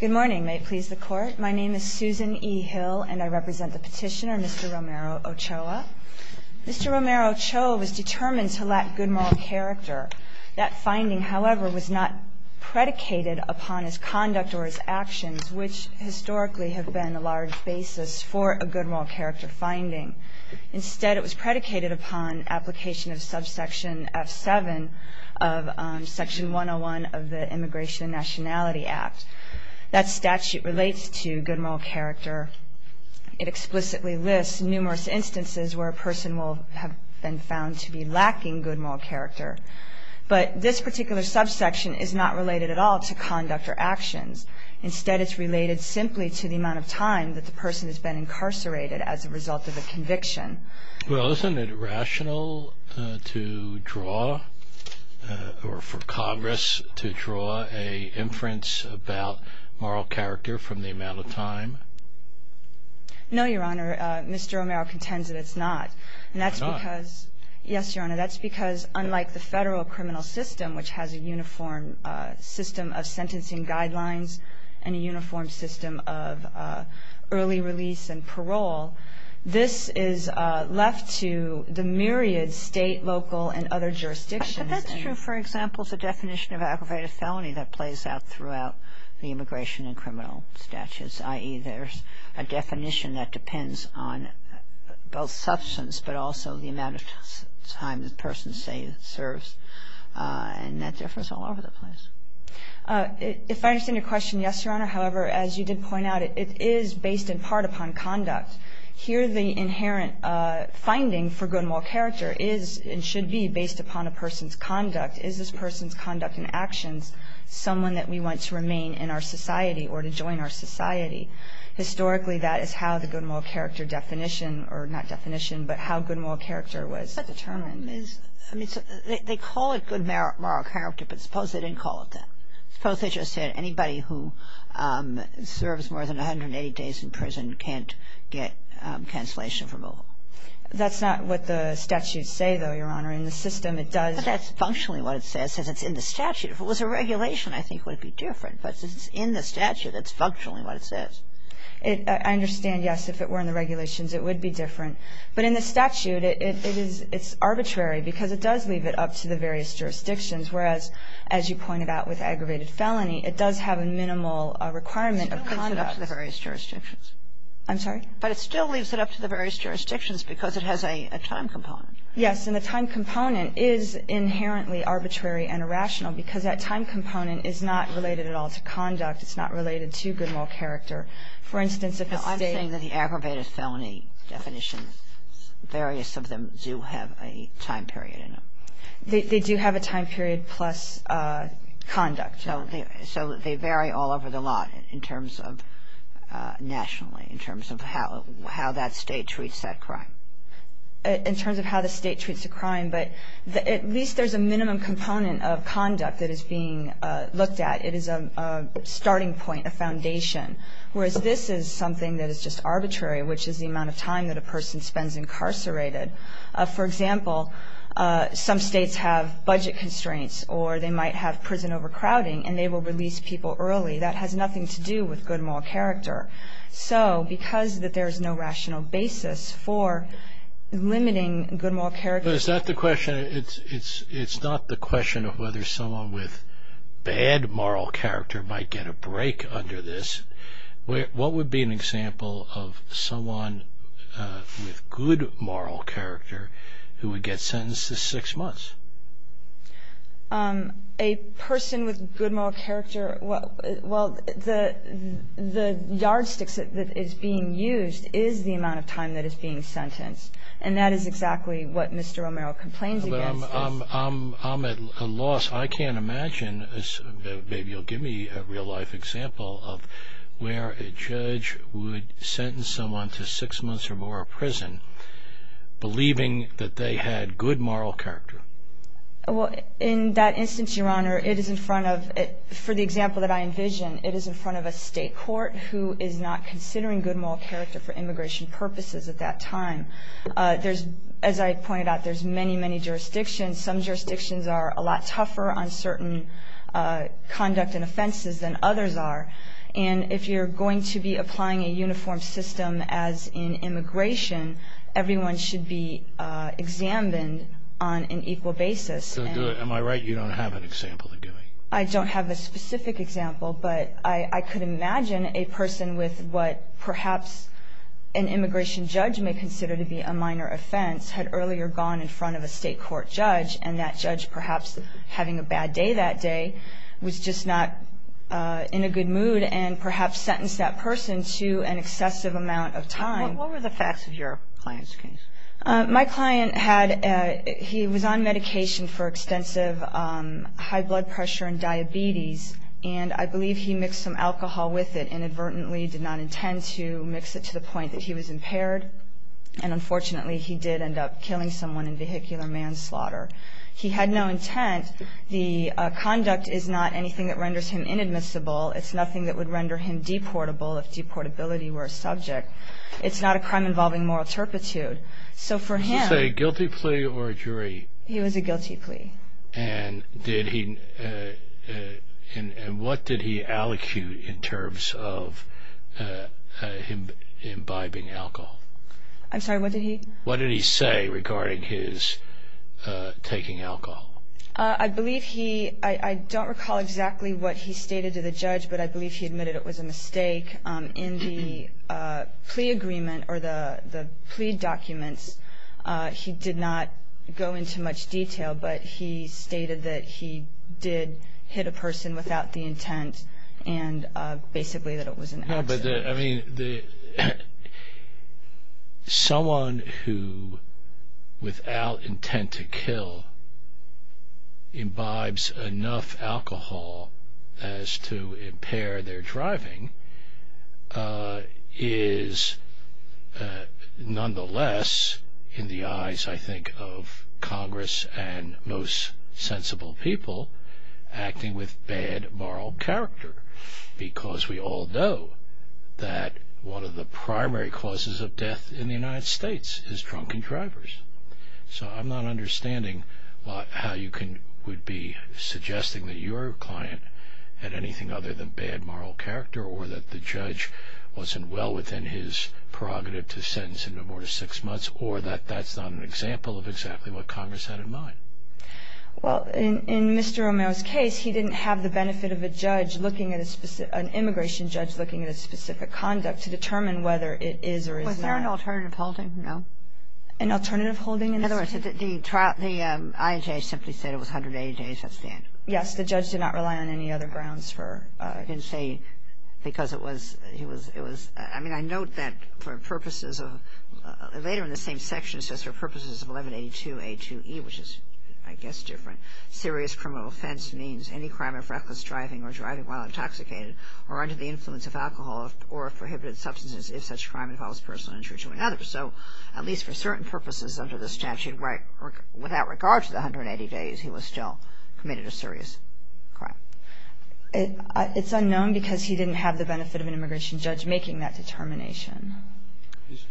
Good morning, may it please the Court. My name is Susan E. Hill, and I represent the petitioner, Mr. Romero-Ochoa. Mr. Romero-Ochoa was determined to lack good moral character. That finding, however, was not predicated upon his conduct or his actions, which historically have been a large basis for a good moral character finding. Instead, it was predicated upon application of subsection F7 of Section 101 of the Immigration and Nationality Act. That statute relates to good moral character. It explicitly lists numerous instances where a person will have been found to be lacking good moral character. But this particular subsection is not related at all to conduct or actions. Instead, it's related simply to the amount of time that the person has been incarcerated as a result of a conviction. Well, isn't it rational to draw, or for Congress to draw, an inference about moral character from the amount of time? No, Your Honor. Mr. Romero contends that it's not. Why not? Because, yes, Your Honor, that's because unlike the federal criminal system, which has a uniform system of sentencing guidelines and a uniform system of early release and parole, this is left to the myriad state, local, and other jurisdictions. But that's true, for example, the definition of aggravated felony that plays out throughout the immigration and criminal statutes, i.e., there's a definition that depends on both substance but also the amount of time the person, say, serves. And that differs all over the place. If I understand your question, yes, Your Honor. However, as you did point out, it is based in part upon conduct. Here the inherent finding for good moral character is and should be based upon a person's conduct. Is this person's conduct and actions someone that we want to remain in our society or to join our society? Historically, that is how the good moral character definition, or not definition, but how good moral character was determined. But the problem is, I mean, they call it good moral character, but suppose they didn't call it that. Suppose they just said anybody who serves more than 180 days in prison can't get cancellation of removal. That's not what the statutes say, though, Your Honor. In the system, it does. But that's functionally what it says. It says it's in the statute. If it was a regulation, I think it would be different. But since it's in the statute, that's functionally what it says. I understand, yes. If it were in the regulations, it would be different. But in the statute, it's arbitrary because it does leave it up to the various jurisdictions, whereas, as you pointed out with aggravated felony, it does have a minimal requirement of conduct. It still leaves it up to the various jurisdictions. I'm sorry? But it still leaves it up to the various jurisdictions because it has a time component. Yes, and the time component is inherently arbitrary and irrational because that time component is not related at all to conduct. It's not related to good moral character. For instance, if a state… Now, I'm saying that the aggravated felony definition, various of them do have a time period in them. They do have a time period plus conduct. So they vary all over the lot in terms of nationally, in terms of how that state treats that crime. In terms of how the state treats the crime, but at least there's a minimum component of conduct that is being looked at. It is a starting point, a foundation, whereas this is something that is just arbitrary, which is the amount of time that a person spends incarcerated. For example, some states have budget constraints, or they might have prison overcrowding, and they will release people early. That has nothing to do with good moral character. Because there's no rational basis for limiting good moral character… Is that the question? It's not the question of whether someone with bad moral character might get a break under this. What would be an example of someone with good moral character who would get sentenced to six months? A person with good moral character… Well, the yardstick that is being used is the amount of time that is being sentenced, and that is exactly what Mr. Romero complains against. I'm at a loss. I can't imagine, maybe you'll give me a real-life example, of where a judge would sentence someone to six months or more in prison, believing that they had good moral character. Well, in that instance, Your Honor, it is in front of… For the example that I envision, it is in front of a state court who is not considering good moral character for immigration purposes at that time. As I pointed out, there's many, many jurisdictions. Some jurisdictions are a lot tougher on certain conduct and offenses than others are. And if you're going to be applying a uniform system as in immigration, everyone should be examined on an equal basis. Am I right you don't have an example? I don't have a specific example, but I could imagine a person with what perhaps an immigration judge may consider to be a minor offense had earlier gone in front of a state court judge, and that judge perhaps having a bad day that day was just not in a good mood and perhaps sentenced that person to an excessive amount of time. What were the facts of your client's case? My client had… He was on medication for extensive high blood pressure and diabetes, and I believe he mixed some alcohol with it inadvertently, and unfortunately he did end up killing someone in vehicular manslaughter. He had no intent. The conduct is not anything that renders him inadmissible. It's nothing that would render him deportable if deportability were a subject. It's not a crime involving moral turpitude. Was this a guilty plea or a jury? He was a guilty plea. And what did he allecute in terms of him imbibing alcohol? I'm sorry, what did he? What did he say regarding his taking alcohol? I believe he… I don't recall exactly what he stated to the judge, but I believe he admitted it was a mistake. In the plea agreement or the plea documents, he did not go into much detail, but he stated that he did hit a person without the intent and basically that it was an accident. I mean, someone who, without intent to kill, imbibes enough alcohol as to impair their driving is nonetheless, in the eyes, I think, of Congress and most sensible people, acting with bad moral character, because we all know that one of the primary causes of death in the United States is drunken drivers. So I'm not understanding how you would be suggesting that your client had anything other than bad moral character or that the judge wasn't well within his prerogative to sentence him to more than six months or that that's not an example of exactly what Congress had in mind. Well, in Mr. Romero's case, he didn't have the benefit of a judge looking at a specific… an immigration judge looking at a specific conduct to determine whether it is or is not. Was there an alternative holding? No? An alternative holding in this case? In other words, the IHA simply said it was 180 days at standard. Yes, the judge did not rely on any other grounds for… He didn't say because it was… I mean, I note that for purposes of… Later in the same section, it says, for purposes of 1182A2E, which is, I guess, different, serious criminal offense means any crime of reckless driving or driving while intoxicated or under the influence of alcohol or of prohibited substances, if such crime involves personal injury to another. So, at least for certain purposes under the statute, without regard to the 180 days, he was still committed a serious crime. It's unknown because he didn't have the benefit of an immigration judge making that determination.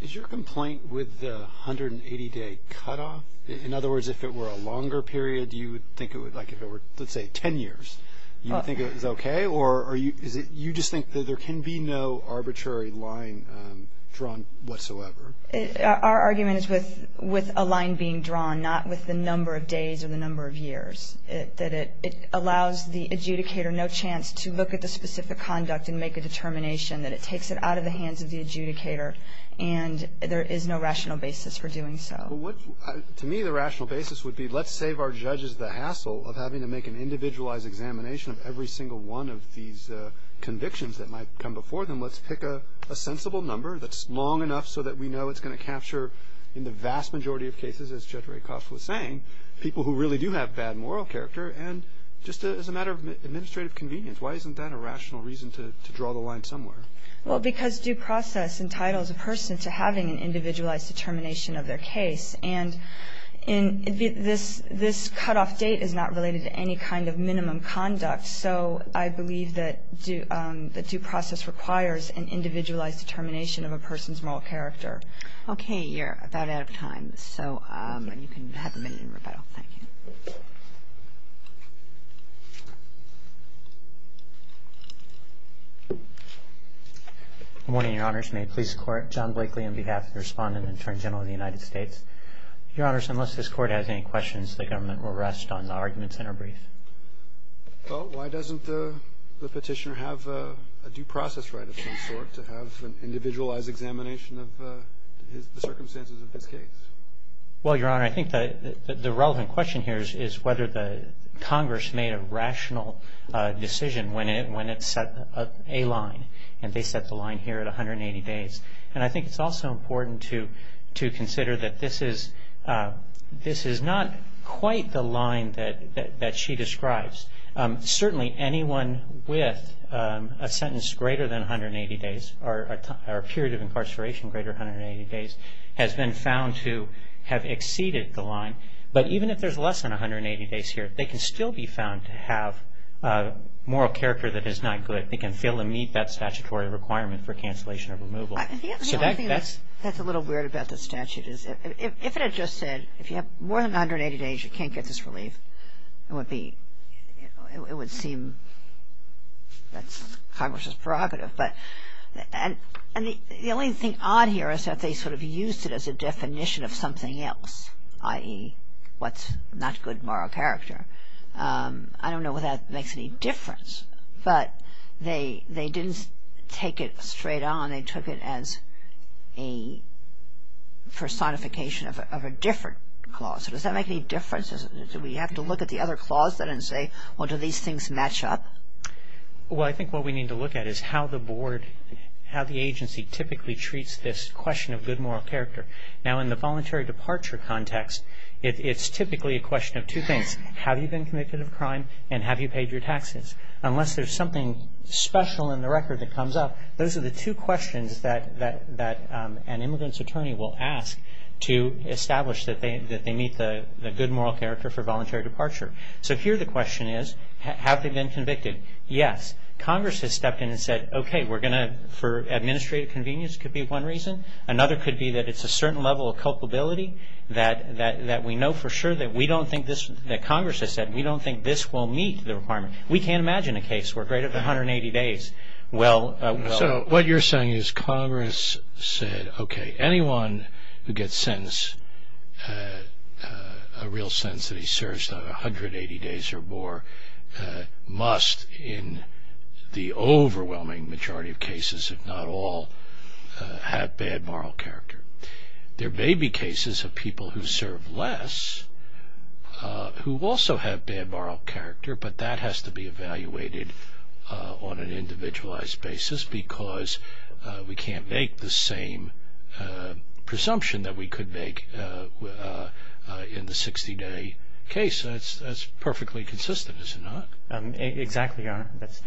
Is your complaint with the 180-day cutoff? In other words, if it were a longer period, you would think it would… Like if it were, let's say, 10 years, you would think it was okay? Or are you… You just think that there can be no arbitrary line drawn whatsoever? Our argument is with a line being drawn, not with the number of days or the number of years, that it allows the adjudicator no chance to look at the specific conduct and make a determination, that it takes it out of the hands of the adjudicator, and there is no rational basis for doing so. To me, the rational basis would be let's save our judges the hassle of having to make an individualized examination of every single one of these convictions that might come before them. Let's pick a sensible number that's long enough so that we know it's going to capture, in the vast majority of cases, as Judge Rakoff was saying, people who really do have bad moral character, and just as a matter of administrative convenience. Why isn't that a rational reason to draw the line somewhere? Well, because due process entitles a person to having an individualized determination of their case. And this cutoff date is not related to any kind of minimum conduct, so I believe that due process requires an individualized determination of a person's moral character. Okay, you're about out of time, so you can have a minute in rebuttal. Thank you. Good morning, Your Honors. May it please the Court, John Blakely on behalf of the Respondent and Attorney General of the United States. Your Honors, unless this Court has any questions, the Government will rest on the arguments in our brief. Well, why doesn't the Petitioner have a due process right of some sort to have an individualized examination of the circumstances of his case? Well, Your Honor, I think that the relevant question here is whether the Congress made a rational decision when it set a line, and they set the line here at 180 days. And I think it's also important to consider that this is not quite the line that she describes. Certainly anyone with a sentence greater than 180 days or a period of incarceration greater than 180 days has been found to have exceeded the line. But even if there's less than 180 days here, they can still be found to have a moral character that is not good. They can fill and meet that statutory requirement for cancellation of removal. That's a little weird about the statute. If it had just said, if you have more than 180 days, you can't get this relief, it would seem that Congress is prerogative. And the only thing odd here is that they sort of used it as a definition of something else, i.e., what's not good moral character. I don't know whether that makes any difference, but they didn't take it straight on. They took it as a personification of a different clause. Does that make any difference? Do we have to look at the other clause then and say, well, do these things match up? Well, I think what we need to look at is how the agency typically treats this question of good moral character. Now, in the voluntary departure context, it's typically a question of two things. Have you been convicted of a crime, and have you paid your taxes? Unless there's something special in the record that comes up, those are the two questions that an immigrant's attorney will ask to establish that they meet the good moral character for voluntary departure. So here the question is, have they been convicted? Yes. Congress has stepped in and said, okay, we're going to, for administrative convenience could be one reason. Another could be that it's a certain level of culpability that we know for sure that we don't think this, that Congress has said, we don't think this will meet the requirement. We can't imagine a case where greater than 180 days will. So what you're saying is Congress said, okay, anyone who gets sentenced, a real sentence that he serves, not 180 days or more, must in the overwhelming majority of cases, if not all, have bad moral character. There may be cases of people who serve less who also have bad moral character, but that has to be evaluated on an individualized basis because we can't make the same presumption that we could make in the 60-day case. That's perfectly consistent, is it not? Exactly, Your Honor. That's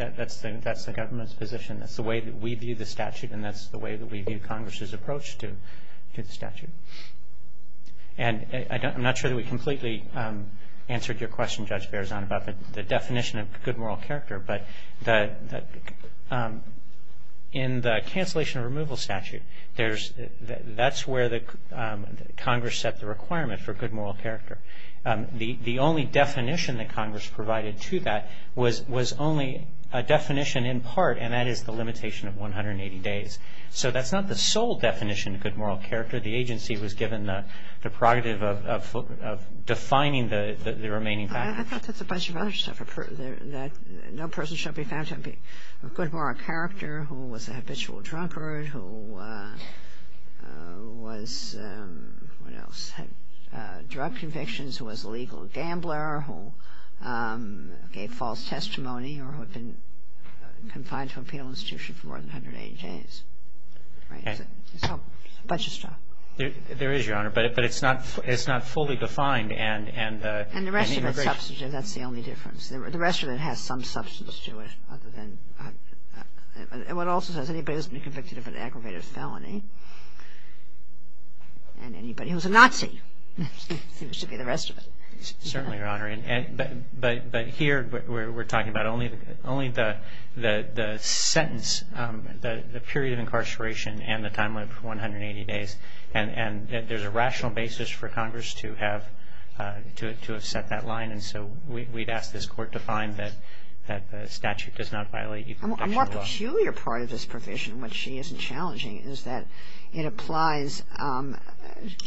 the government's position. That's the way that we view the statute, and that's the way that we view Congress's approach to the statute. And I'm not sure that we completely answered your question, Judge Berzon, about the definition of good moral character, but in the cancellation or removal statute, that's where Congress set the requirement for good moral character. The only definition that Congress provided to that was only a definition in part, and that is the limitation of 180 days. So that's not the sole definition of good moral character. The agency was given the prerogative of defining the remaining fact. I thought that's a bunch of other stuff. No person shall be found to have good moral character, who was a habitual drunkard, who was, what else, had drug convictions, who was a legal gambler, who gave false testimony, or who had been confined to a penal institution for more than 180 days. Right? It's all a bunch of stuff. There is, Your Honor, but it's not fully defined. And the rest of it's substantive. That's the only difference. The rest of it has some substance to it. It also says anybody who's been convicted of an aggravated felony, and anybody who's a Nazi seems to be the rest of it. Certainly, Your Honor. But here we're talking about only the sentence, the period of incarceration and the timeline for 180 days. And there's a rational basis for Congress to have set that line. And so we'd ask this Court to find that the statute does not violate even the actual law. A more peculiar part of this provision, which she isn't challenging, is that it applies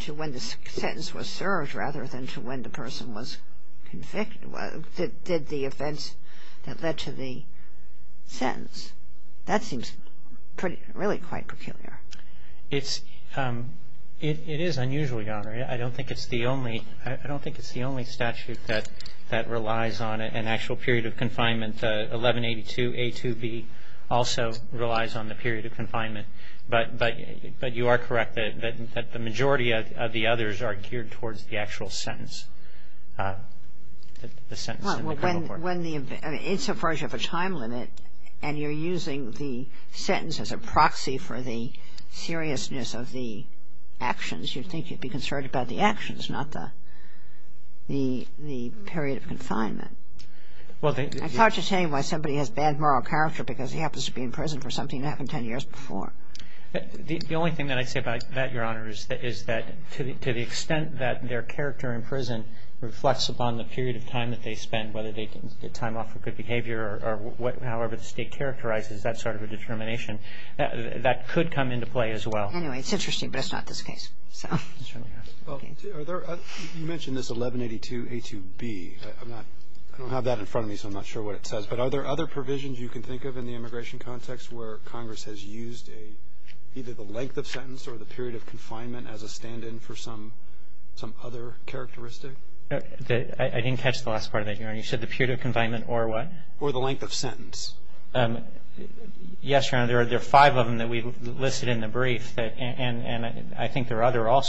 to when the sentence was served rather than to when the person was convicted. Did the offense that led to the sentence, that seems really quite peculiar. It is unusual, Your Honor. I don't think it's the only statute that relies on an actual period of confinement. 1182A2B also relies on the period of confinement. But you are correct that the majority of the others are geared towards the actual sentence. The sentence in the criminal court. Well, when the, insofar as you have a time limit, and you're using the sentence as a proxy for the seriousness of the actions, you'd think you'd be concerned about the actions, not the period of confinement. I can't just tell you why somebody has bad moral character because he happens to be in prison for something that happened ten years before. The only thing that I'd say about that, Your Honor, is that to the extent that their character in prison reflects upon the period of time that they spend, whether they get time off for good behavior or however the state characterizes that sort of a determination, that could come into play as well. Anyway, it's interesting, but it's not this case. You mentioned this 1182A2B. I don't have that in front of me, so I'm not sure what it says. But are there other provisions you can think of in the immigration context where Congress has used either the length of sentence or the period of confinement as a stand-in for some other characteristic? I didn't catch the last part of that, Your Honor. You said the period of confinement or what? Or the length of sentence. Yes, Your Honor, there are five of them that we listed in the brief, and I think there are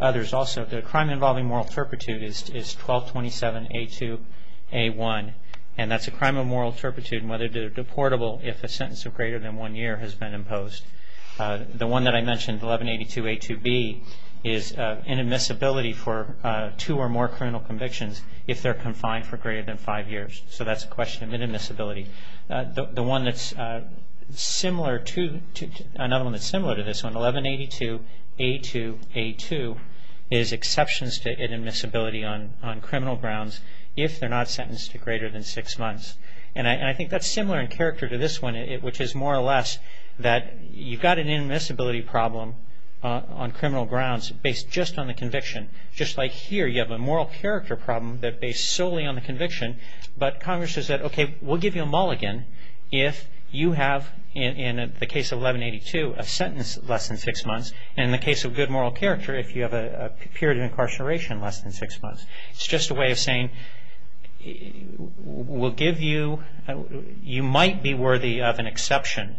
others also. The crime involving moral turpitude is 1227A2A1, and that's a crime of moral turpitude in whether they're deportable if a sentence of greater than one year has been imposed. The one that I mentioned, 1182A2B, is inadmissibility for two or more criminal convictions if they're confined for greater than five years. So that's a question of inadmissibility. The one that's similar to this one, 1182A2A2, is exceptions to inadmissibility on criminal grounds if they're not sentenced to greater than six months. And I think that's similar in character to this one, which is more or less that you've got an inadmissibility problem on criminal grounds based just on the conviction. Just like here, you have a moral character problem that's based solely on the conviction, but Congress has said, okay, we'll give you a mulligan if you have, in the case of 1182, a sentence less than six months, and in the case of good moral character, if you have a period of incarceration less than six months. It's just a way of saying we'll give you, you might be worthy of an exception.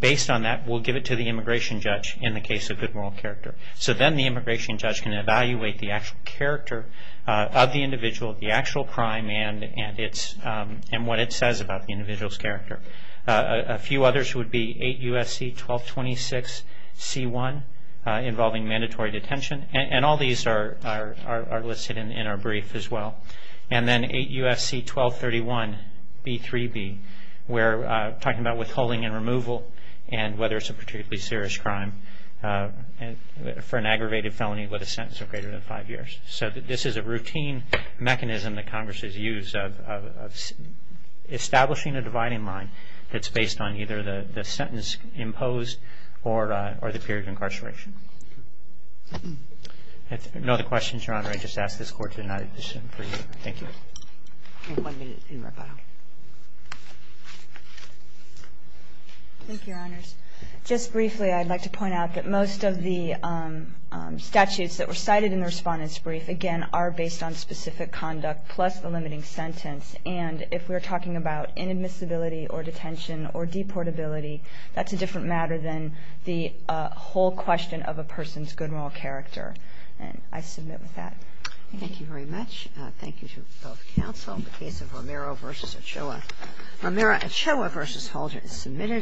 Based on that, we'll give it to the immigration judge in the case of good moral character. So then the immigration judge can evaluate the actual character of the individual, the actual crime, and what it says about the individual's character. A few others would be 8 U.S.C. 1226C1, involving mandatory detention, and all these are listed in our brief as well. And then 8 U.S.C. 1231B3B, where we're talking about withholding and removal, and whether it's a particularly serious crime for an aggravated felony with a sentence of greater than five years. So this is a routine mechanism that Congress has used of establishing a dividing line that's based on either the sentence imposed or the period of incarceration. If there are no other questions, Your Honor, I just ask this Court to deny the decision for you. Thank you. We have one minute in rebuttal. Thank you, Your Honors. Just briefly, I'd like to point out that most of the statutes that were cited in the Respondent's Brief, again, are based on specific conduct plus the limiting sentence. And if we're talking about inadmissibility or detention or deportability, that's a different matter than the whole question of a person's good moral character. And I submit with that. Thank you very much. Thank you to both counsel. The case of Romero v. Ochoa. Romero Ochoa v. Halter is submitted.